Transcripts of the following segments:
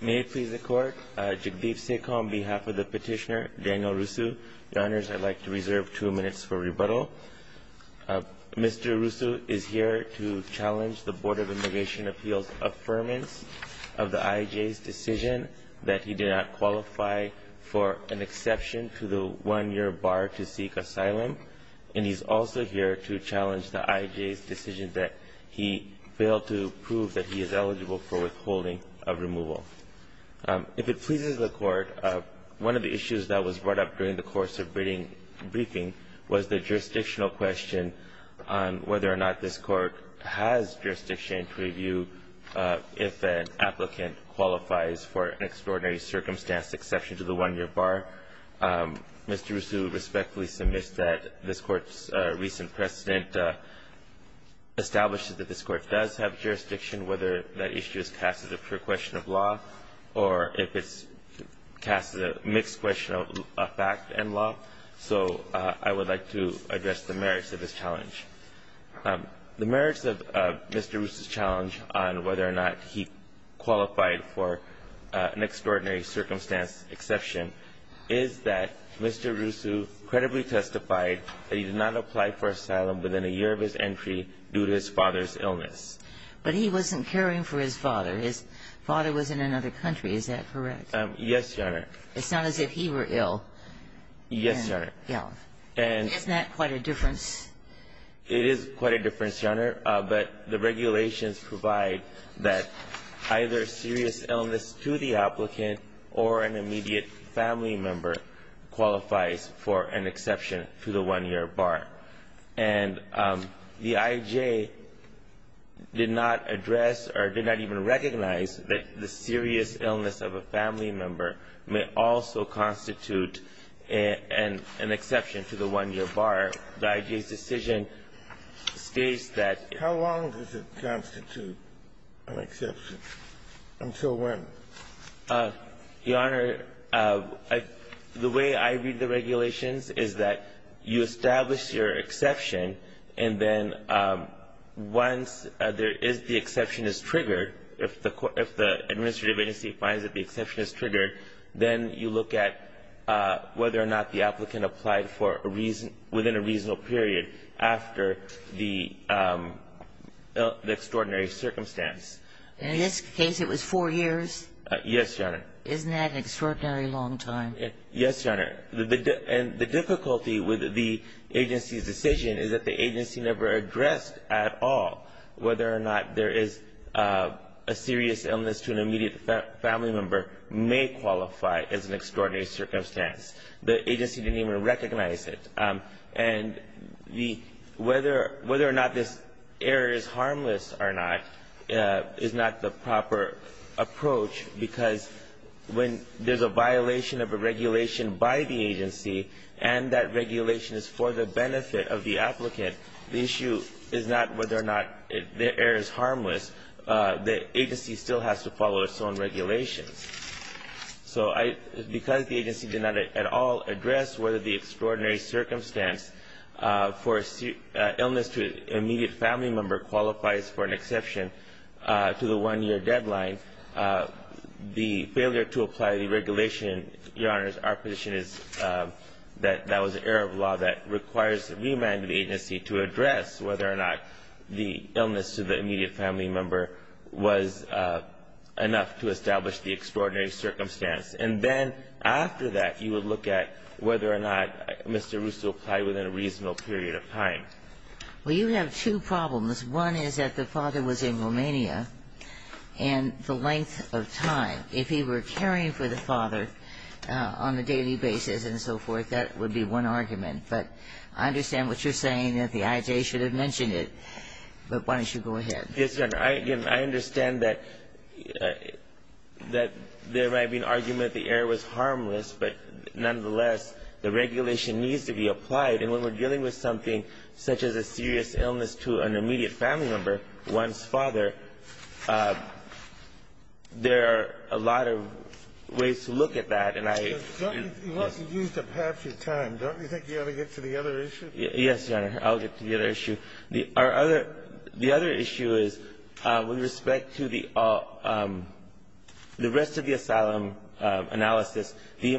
May it please the Court, Jagdeep Sekhu on behalf of the petitioner, Daniel Rusu. Your Honors, I'd like to reserve two minutes for rebuttal. Mr. Rusu is here to challenge the Board of Immigration Appeals' affirmance of the IJ's decision that he did not qualify for an exception to the one-year bar to seek asylum, and he's also here to challenge the IJ's decision that he failed to prove that he is eligible for withholding of removal. If it pleases the Court, one of the issues that was brought up during the course of briefing was the jurisdictional question on whether or not this Court has jurisdiction to review if an applicant qualifies for an extraordinary circumstance exception to the one-year bar. Mr. Rusu respectfully submits that this Court's recent precedent establishes that this Court does have jurisdiction whether that issue is cast as a pure question of law or if it's cast as a mixed question of fact and law. So I would like to address the merits of this challenge. The merits of Mr. Rusu's challenge on whether or not he qualified for an extraordinary circumstance exception is that Mr. Rusu credibly testified that he did not apply for asylum within a year of his entry due to his father's illness. But he wasn't caring for his father. His father was in another country. Is that correct? Yes, Your Honor. It's not as if he were ill. Yes, Your Honor. Isn't that quite a difference? It is quite a difference, Your Honor. But the regulations provide that either serious illness to the applicant or an immediate family member qualifies for an exception to the one-year bar. And the I.J. did not address or did not even recognize that the serious illness of a family member may also constitute an exception to the one-year bar. The I.J.'s decision states that it How long does it constitute an exception? Until when? Your Honor, the way I read the regulations is that you establish your exception, and then once there is the exception is triggered, if the administrative agency finds that the exception is triggered, then you look at whether or not the Yes, Your Honor. Isn't that an extraordinary long time? Yes, Your Honor. And the difficulty with the agency's decision is that the agency never addressed at all whether or not there is a serious illness to an immediate family member may qualify as an extraordinary circumstance. The agency didn't even recognize it. And the whether or not this error is harmless or not is not the proper approach because when there's a violation of a regulation by the agency and that regulation is for the benefit of the applicant, the issue is not whether or not the error is harmless. The agency still has to follow its own regulations. So because the agency did not at all address whether the extraordinary circumstance for illness to an immediate family member qualifies for an exception to the 1-year deadline, the failure to apply the regulation, Your Honors, our position is that that was an error of law that requires the remand of the agency to address whether or not the illness to the immediate family member was enough to establish the extraordinary circumstance. And then after that, you would look at whether or not Mr. Russo applied within a reasonable period of time. Well, you have two problems. One is that the father was in Romania and the length of time. If he were caring for the father on a daily basis and so forth, that would be one argument. But I understand what you're saying, that the IJA should have mentioned it. But why don't you go ahead. Yes, Your Honor. I understand that there might be an argument that the error was harmless, but nonetheless, the regulation needs to be applied. And when we're dealing with something such as a serious illness to an immediate family member, one's father, there are a lot of ways to look at that. It wasn't used up half your time. Don't you think you ought to get to the other issue? Yes, Your Honor. I'll get to the other issue. The other issue is, with respect to the rest of the asylum analysis, the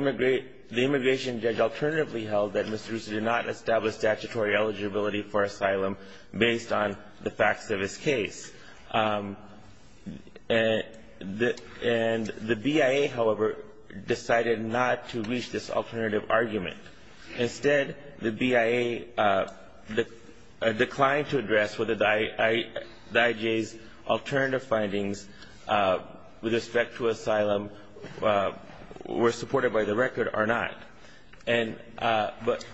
immigration judge alternatively held that Mr. Russo did not establish statutory eligibility for asylum based on the facts of his case. And the BIA, however, decided not to reach this alternative argument. Instead, the BIA declined to address whether the IJA's alternative findings with respect to asylum were supported by the record or not. But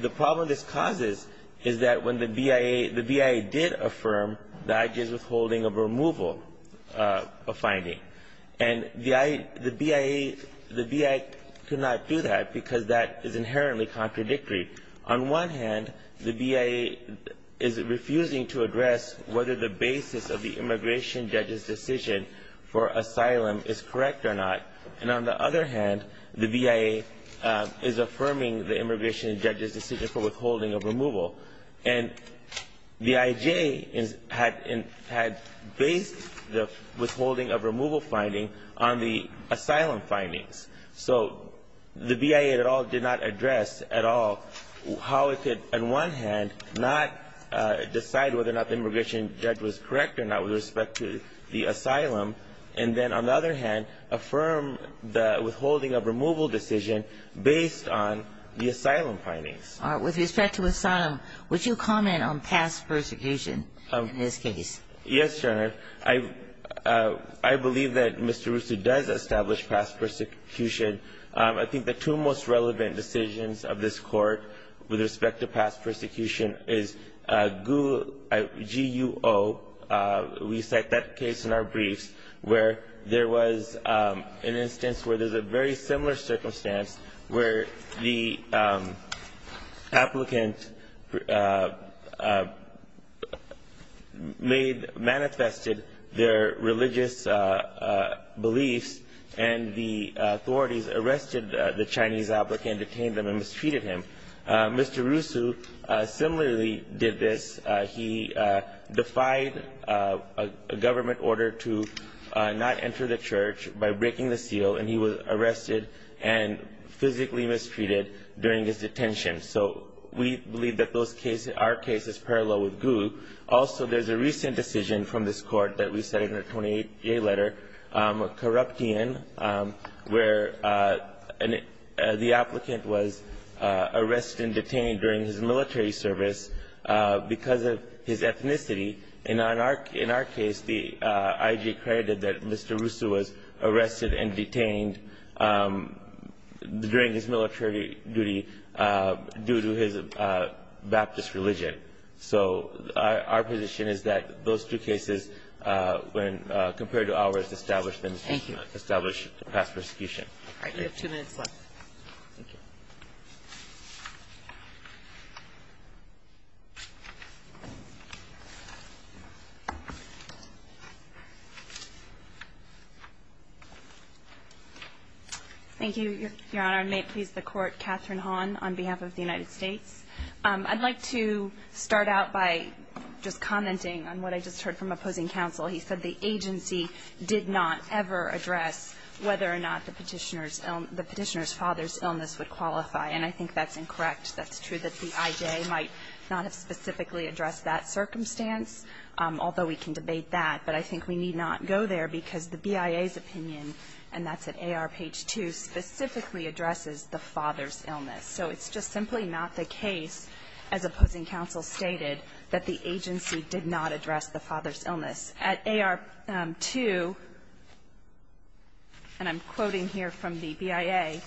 the problem this causes is that when the BIA, the BIA did affirm the IJA's withholding of removal finding. And the BIA could not do that because that is inherently contradictory. On one hand, the BIA is refusing to address whether the basis of the immigration judge's decision for asylum is correct or not. And on the other hand, the BIA is affirming the immigration judge's decision for withholding of removal. And the IJA had based the withholding of removal finding on the asylum findings. So the BIA at all did not address at all how it could, on one hand, not decide whether or not the immigration judge was correct or not with respect to the asylum. And then on the other hand, affirm the withholding of removal decision based on the asylum findings. With respect to asylum, would you comment on past persecution in this case? Yes, Your Honor. I believe that Mr. Russo does establish past persecution. I think the two most relevant decisions of this Court with respect to past persecution is GUO. We cite that case in our briefs where there was an instance where there's a very similar circumstance where the applicant made, manifested their religious beliefs, and the authorities arrested the Chinese applicant, detained him, and mistreated him. Mr. Russo similarly did this. He defied a government order to not enter the church by breaking the seal, and he was arrested and physically mistreated during his detention. So we believe that those cases, our case, is parallel with GUO. Also, there's a recent decision from this Court that we cite in our 28-day letter, a case where the applicant was arrested and detained during his military service because of his ethnicity. In our case, the IG credited that Mr. Russo was arrested and detained during his military duty due to his Baptist religion. So our position is that those two cases, when compared to ours, establish past persecution. Thank you. All right. We have two minutes left. Thank you. Thank you, Your Honor. And may it please the Court, Catherine Hahn on behalf of the United States. I'd like to start out by just commenting on what I just heard from opposing counsel. He said the agency did not ever address whether or not the Petitioner's father's illness would qualify. And I think that's incorrect. That's true that the IJ might not have specifically addressed that circumstance, although we can debate that. But I think we need not go there because the BIA's opinion, and that's at AR page 2, specifically addresses the father's illness. So it's just simply not the case, as opposing counsel stated, that the agency did not address the father's illness. At AR 2, and I'm quoting here from the BIA,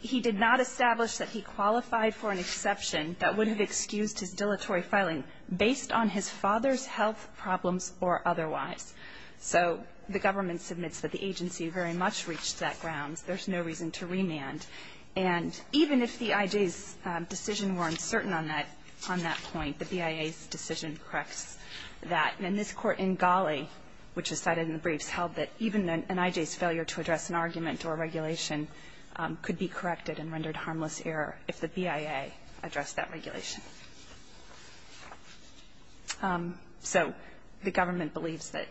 he did not establish that he qualified for an exception that would have excused his dilatory filing based on his father's health problems or otherwise. So the government submits that the agency very much reached that ground. There's no reason to remand. And even if the IJ's decision were uncertain on that point, the BIA's decision corrects that. And this Court in Ghali, which is cited in the briefs, held that even an IJ's failure to address an argument or regulation could be corrected and rendered harmless error if the BIA addressed that regulation. So the government believes that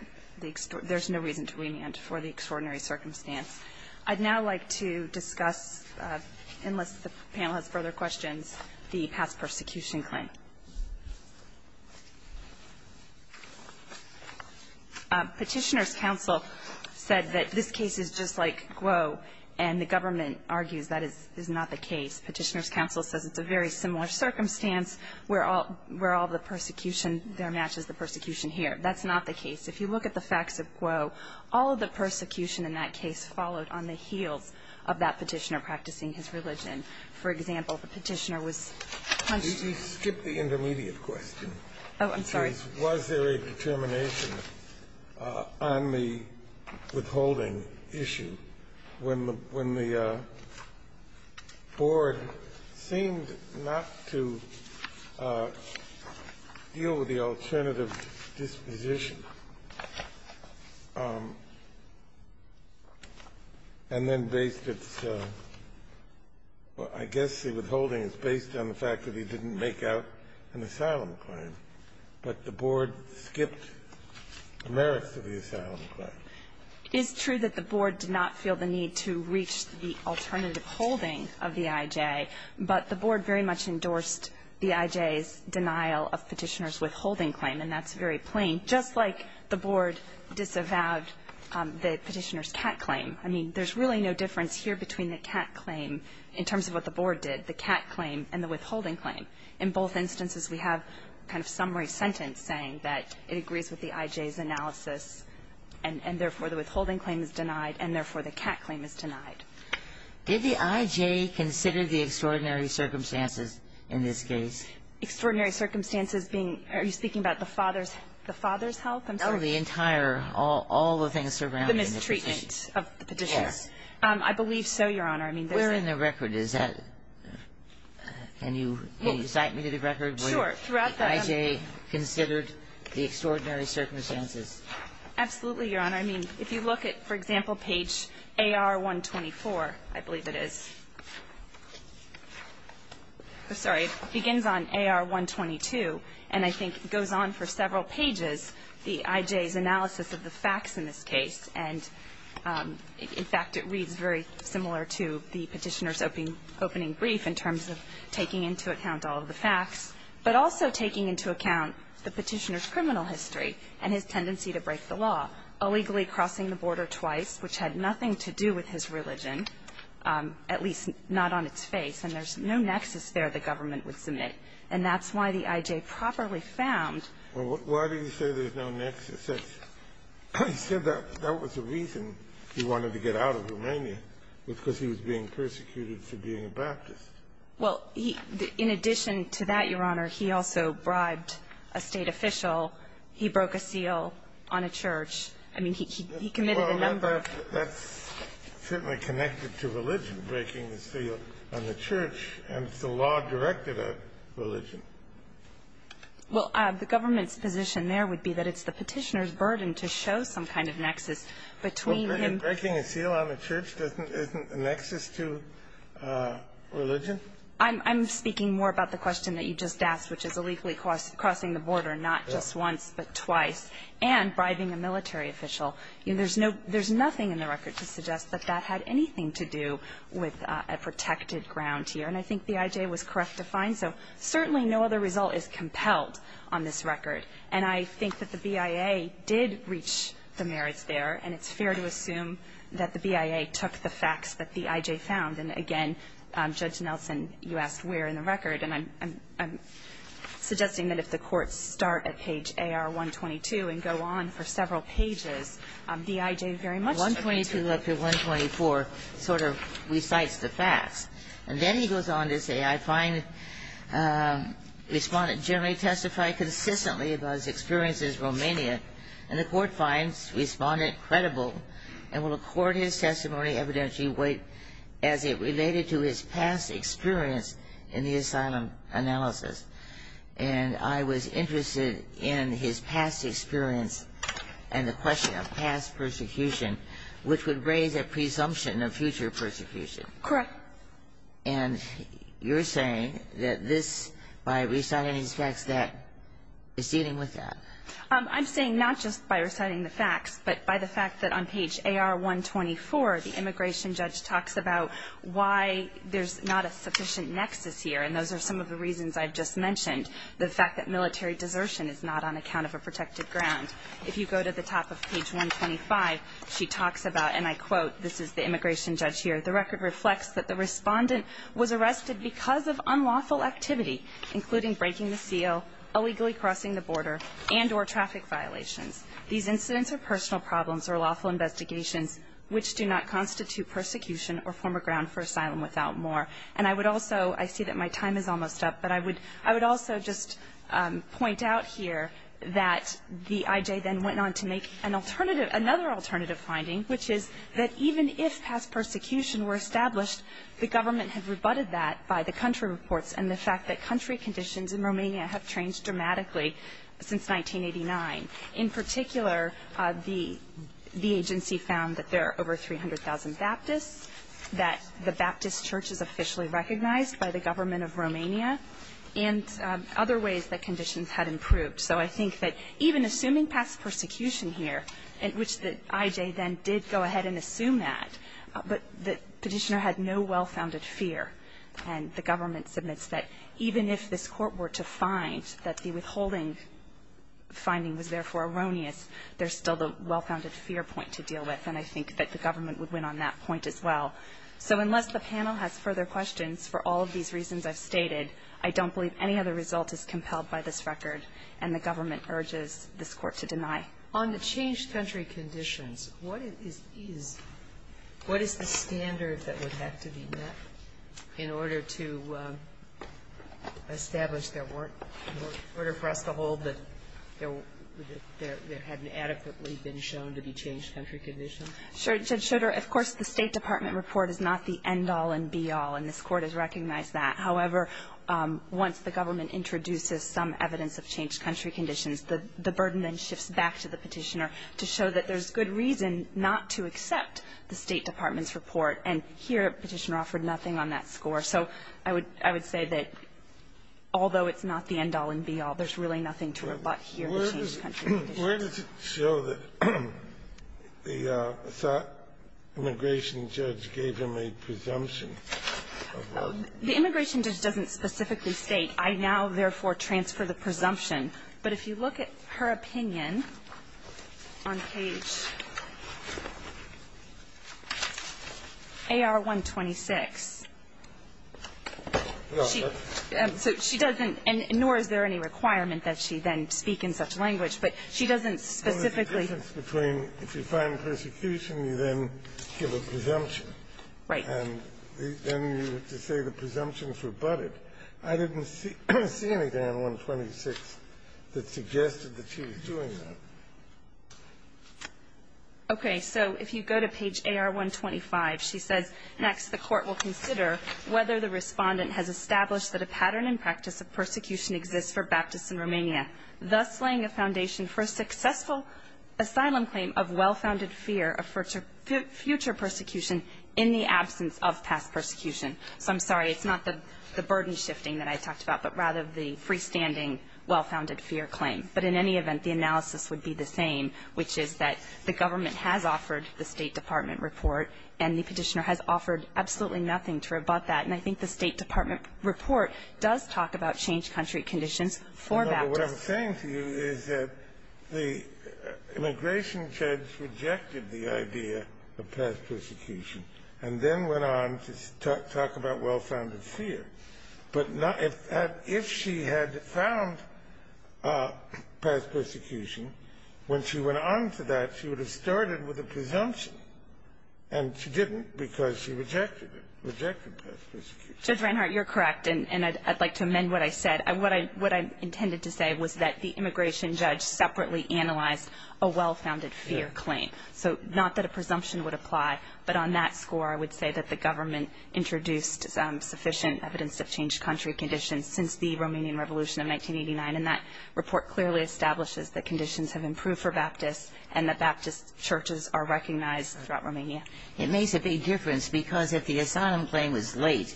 there's no reason to remand for the extraordinary circumstance. I'd now like to discuss, unless the panel has further questions, the past persecution claim. Petitioner's counsel said that this case is just like Guo, and the government argues that is not the case. Petitioner's counsel says it's a very similar circumstance where all the persecution there matches the persecution here. That's not the case. If you look at the facts of Guo, all of the persecution in that case followed on the heels of that Petitioner practicing his religion. For example, the Petitioner was punched to death. Kennedy, you skipped the intermediate question. Oh, I'm sorry. Was there a determination on the withholding issue when the Board seemed not to deal with the alternative disposition? And then based its – I guess the withholding is based on the fact that he didn't make out an asylum claim, but the Board skipped the merits of the asylum claim. It is true that the Board did not feel the need to reach the alternative holding of the IJ, but the Board very much endorsed the IJ's denial of Petitioner's withholding claim, and that's very plain. Just like the Board disavowed the Petitioner's cat claim. I mean, there's really no difference here between the cat claim in terms of what the Board did, the cat claim, and the withholding claim. In both instances, we have a kind of summary sentence saying that it agrees with the IJ's analysis, and therefore, the withholding claim is denied, and therefore, the cat claim is denied. Did the IJ consider the extraordinary circumstances in this case? Extraordinary circumstances being – are you speaking about the father's health? I'm sorry. No, the entire – all the things surrounding the Petitioner. The mistreatment of the Petitioner. Yes. I believe so, Your Honor. I mean, there's a – Where in the record is that? Can you cite me to the record where the IJ considered the extraordinary circumstances? Absolutely, Your Honor. I mean, if you look at, for example, page AR-124, I believe it is. I'm sorry. It begins on AR-122, and I think goes on for several pages, the IJ's analysis of the facts in this case, and in fact, it reads very similar to the Petitioner's opening brief in terms of taking into account all of the facts, but also taking into account the Petitioner's criminal history and his tendency to break the law, illegally crossing the border twice, which had nothing to do with his religion, at least not on its face. And there's no nexus there the government would submit. And that's why the IJ properly found – Well, why do you say there's no nexus? It's – he said that that was the reason he wanted to get out of Romania was because he was being persecuted for being a Baptist. Well, he – in addition to that, Your Honor, he also bribed a State official. He broke a seal on a church. I mean, he committed a number of – Well, that's certainly connected to religion, breaking the seal on the church, and it's a law directed at religion. Well, the government's position there would be that it's the Petitioner's burden to show some kind of nexus between him – Breaking a seal on a church isn't a nexus to religion? I'm speaking more about the question that you just asked, which is illegally crossing the border not just once but twice, and bribing a military official. There's no – there's nothing in the record to suggest that that had anything to do with a protected ground here, and I think the IJ was correct to find. So certainly no other result is compelled on this record. And I think that the BIA did reach the merits there, and it's fair to assume that the BIA took the facts that the IJ found. And again, Judge Nelson, you asked where in the record, and I'm suggesting that if the courts start at page AR-122 and go on for several pages, the IJ very much took the – AR-122 up to AR-124 sort of recites the facts, and then he goes on to say, I find respondent generally testified consistently about his experiences in Romania, and the court finds respondent credible and will record his testimony evidentially weight as it related to his past experience in the asylum analysis. And I was interested in his past experience and the question of past persecution, which would raise a presumption of future persecution. Correct. And you're saying that this, by reciting these facts, that is dealing with that. I'm saying not just by reciting the facts, but by the fact that on page AR-124, the immigration judge talks about why there's not a sufficient nexus here, and those are some of the reasons I've just mentioned. The fact that military desertion is not on account of a protected ground. If you go to the top of page 125, she talks about, and I quote, this is the immigration judge here, the record reflects that the respondent was arrested because of unlawful activity, including breaking the seal, illegally crossing the border, and or traffic violations. These incidents are personal problems or lawful investigations, which do not constitute persecution or form a ground for asylum without more. And I would also, I see that my time is almost up, but I would also just point out here that the IJ then went on to make another alternative finding, which is that even if past persecution were established, the government had rebutted that by the country reports and the fact that country conditions in Romania have changed dramatically since 1989. In particular, the agency found that there are over 300,000 Baptists, that the Baptist church is officially recognized by the government of Romania, and other ways that conditions had improved. So I think that even assuming past persecution here, in which the IJ then did go ahead and assume that, but the petitioner had no well-founded fear, and the government submits that even if this Court were to find that the withholding finding was therefore erroneous, there's still the well-founded fear point to deal with. And I think that the government would win on that point as well. So unless the panel has further questions for all of these reasons I've stated, I don't believe any other result is compelled by this record, and the government urges this Court to deny. On the changed country conditions, what is the standard that would have to be met in order to establish their work, in order for us to hold that there hadn't adequately been shown to be changed country conditions? Sure, Judge Schroeder, of course, the State Department report is not the end-all and be-all, and this Court has recognized that. However, once the government introduces some evidence of changed country conditions, the burden then shifts back to the petitioner to show that there's good reason not to accept the State Department's report, and here, Petitioner offered nothing on that score. So I would say that although it's not the end-all and be-all, there's really nothing to rebut here in the changed country conditions. Where does it show that the immigration judge gave him a presumption of our work? The immigration judge doesn't specifically state, I now therefore transfer the presumption. But if you look at her opinion on page AR-126, she doesn't, and nor is there any requirement that she then speak in such language, but she doesn't specifically So there's a difference between if you find persecution, you then give a presumption. Right. And then you have to say the presumption is rebutted. I didn't see anything on 126 that suggested that she was doing that. Okay. So if you go to page AR-125, she says, Next, the Court will consider whether the Respondent has established that a pattern in practice of persecution exists for Baptists in Romania, thus laying the foundation for a successful asylum claim of well-founded fear of future persecution in the absence of past persecution. So I'm sorry. It's not the burden shifting that I talked about, but rather the freestanding well-founded fear claim. But in any event, the analysis would be the same, which is that the government has offered the State Department report, and the Petitioner has offered absolutely nothing to rebut that. And I think the State Department report does talk about changed country conditions for Baptists. No, but what I'm saying to you is that the immigration judge rejected the idea of past persecution, and then went on to talk about well-founded fear. But if she had found past persecution, when she went on to that, she would have started with a presumption. And she didn't, because she rejected it, rejected past persecution. Judge Reinhart, you're correct, and I'd like to amend what I said. What I intended to say was that the immigration judge separately analyzed a well-founded fear claim. So not that a presumption would apply, but on that score, I would say that the government introduced sufficient evidence of changed country conditions since the Romanian Revolution of 1989. And that report clearly establishes that conditions have improved for Baptists, and that Baptist churches are recognized throughout Romania. It makes a big difference, because if the asylum claim was late,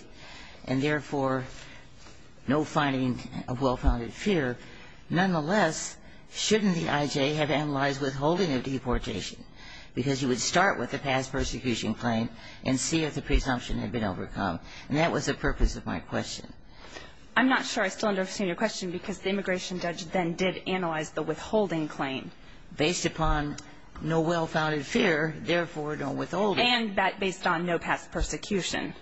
and therefore, no finding of well-founded fear, nonetheless, shouldn't the IJ have analyzed withholding of deportation? Because you would start with the past persecution claim, and see if the presumption had been overcome. And that was the purpose of my question. I'm not sure I still understand your question, because the immigration judge then did analyze the withholding claim. Based upon no well-founded fear, therefore, no withholding. And that based on no past persecution.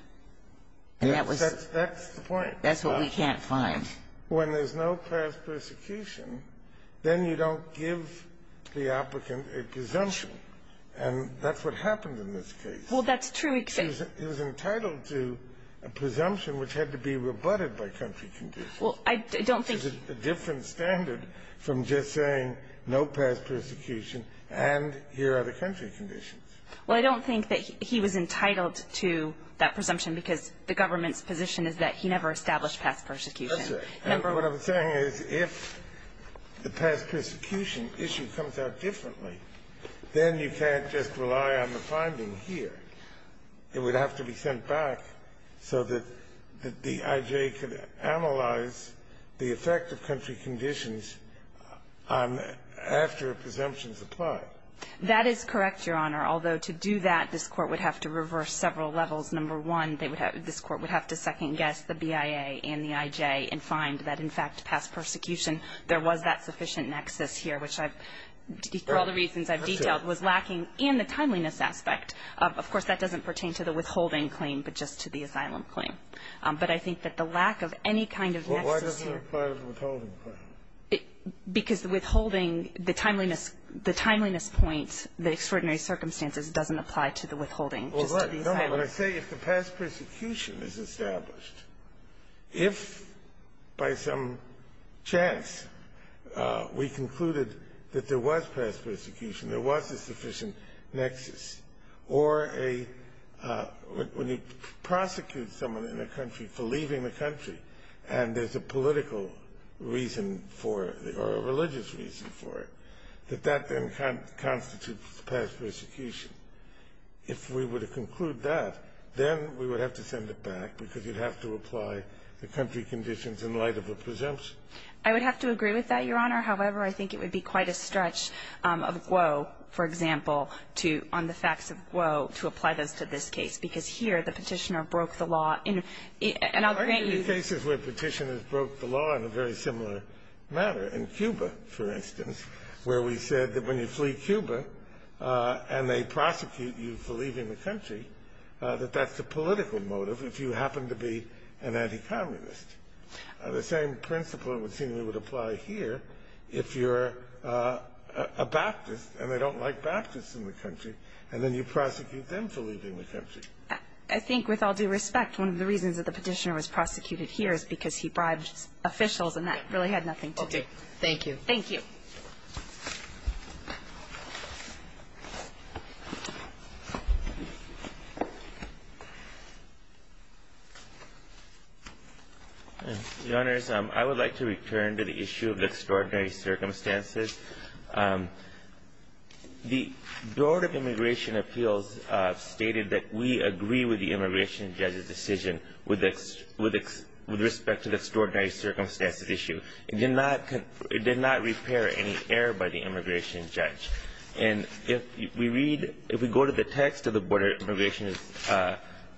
That's the point. That's what we can't find. When there's no past persecution, then you don't give the applicant a presumption. And that's what happened in this case. Well, that's true. He was entitled to a presumption which had to be rebutted by country conditions. Well, I don't think he was. Which is a different standard from just saying, no past persecution, and here are the country conditions. Well, I don't think that he was entitled to that presumption, because the government's position is that he never established past persecution. Let's say. And what I'm saying is, if the past persecution issue comes out differently, then you can't just rely on the finding here. It would have to be sent back so that the I.J. could analyze the effect of country conditions after a presumption is applied. That is correct, Your Honor. Although to do that, this Court would have to reverse several levels. Number one, this Court would have to second-guess the BIA and the I.J. and find that, in fact, past persecution, there was that sufficient nexus here, which I've deferred all the reasons I've detailed, was lacking in the timeliness aspect. Of course, that doesn't pertain to the withholding claim, but just to the asylum claim. But I think that the lack of any kind of nexus here Why doesn't it apply to the withholding claim? Because the withholding, the timeliness point, the extraordinary circumstances doesn't apply to the withholding, just to the asylum claim. No, but I say if the past persecution is established, if by some chance we concluded that there was past persecution, there was a sufficient nexus, or a When you prosecute someone in a country for leaving the country and there's a political reason for it or a religious reason for it, that that then constitutes past persecution. If we were to conclude that, then we would have to send it back because you'd have to apply the country conditions in light of a presumption. I would have to agree with that, Your Honor. However, I think it would be quite a stretch of Guo, for example, to On the Facts of Guo to apply this to this case, because here the Petitioner broke the law in And I'll grant you There are cases where Petitioners broke the law in a very similar matter. In Cuba, for instance, where we said that when you flee Cuba and they prosecute you for leaving the country, that that's a political motive if you happen to be an anti-communist. The same principle would seem to apply here if you're a Baptist and they don't like Baptists in the country, and then you prosecute them for leaving the country. I think with all due respect, one of the reasons that the Petitioner was prosecuted here is because he bribed officials, and that really had nothing to do with the Petitioner. And so I think that's the reason that the Petitioner was prosecuted here. Thank you. Thank you. Your Honors, I would like to return to the issue of extraordinary circumstances. The Board of Immigration Appeals stated that we agree with the immigration judge's decision with respect to the extraordinary circumstances issue. It did not repair any error by the immigration judge. And if we read, if we go to the text of the Board of Immigration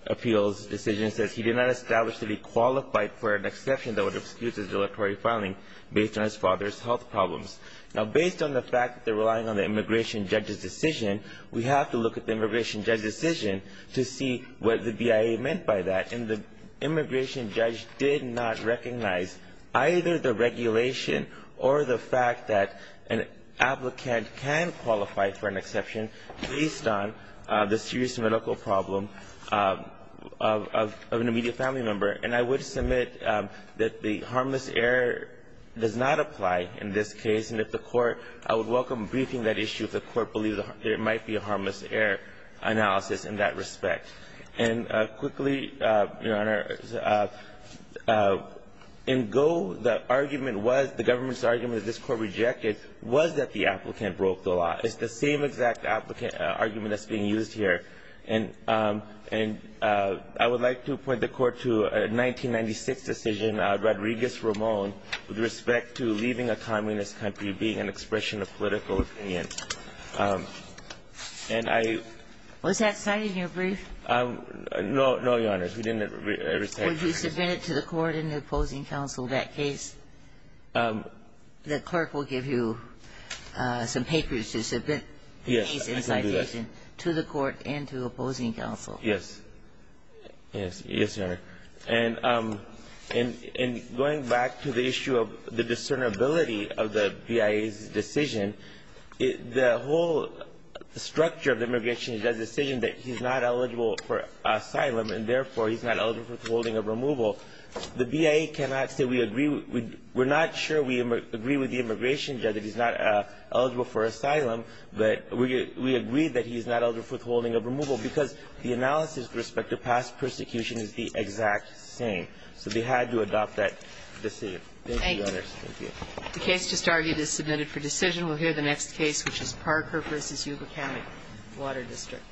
Appeals decision, it says he did not establish that he qualified for an exception that would excuse his deletory filing based on his father's health problems. Now, based on the fact that they're relying on the immigration judge's decision, we have to look at the immigration judge's decision to see what the BIA meant by that. And the immigration judge did not recognize either the regulation or the fact that an applicant can qualify for an exception based on the serious medical problem of an immediate family member. And I would submit that the harmless error does not apply in this case. And if the court, I would welcome briefing that issue if the court believes there might be a harmless error analysis in that respect. And quickly, Your Honor, in Go, the argument was, the government's argument that this court rejected was that the applicant broke the law. It's the same exact applicant argument that's being used here. And I would like to point the court to a 1996 decision, Rodriguez-Ramon, with respect to leaving a communist country being an expression of political opinion. And I was that cited in your brief? No, no, Your Honor. We didn't ever say that. Were you submitted to the court and the opposing counsel that case? The clerk will give you some papers to submit the case in citation to the court and to the opposing counsel. Yes. Yes, Your Honor. And going back to the issue of the discernibility of the BIA's decision, the whole structure of the immigration judge's decision that he's not eligible for asylum and, therefore, he's not eligible for withholding of removal, the BIA cannot say we agree with the immigration judge that he's not eligible for asylum, but we agree that he's not eligible for withholding of removal because the analysis with respect to past persecution is the exact same. So they had to adopt that decision. Thank you, Your Honor. Thank you. The case just argued is submitted for decision. We'll hear the next case, which is Parker v. Yuba County Water District.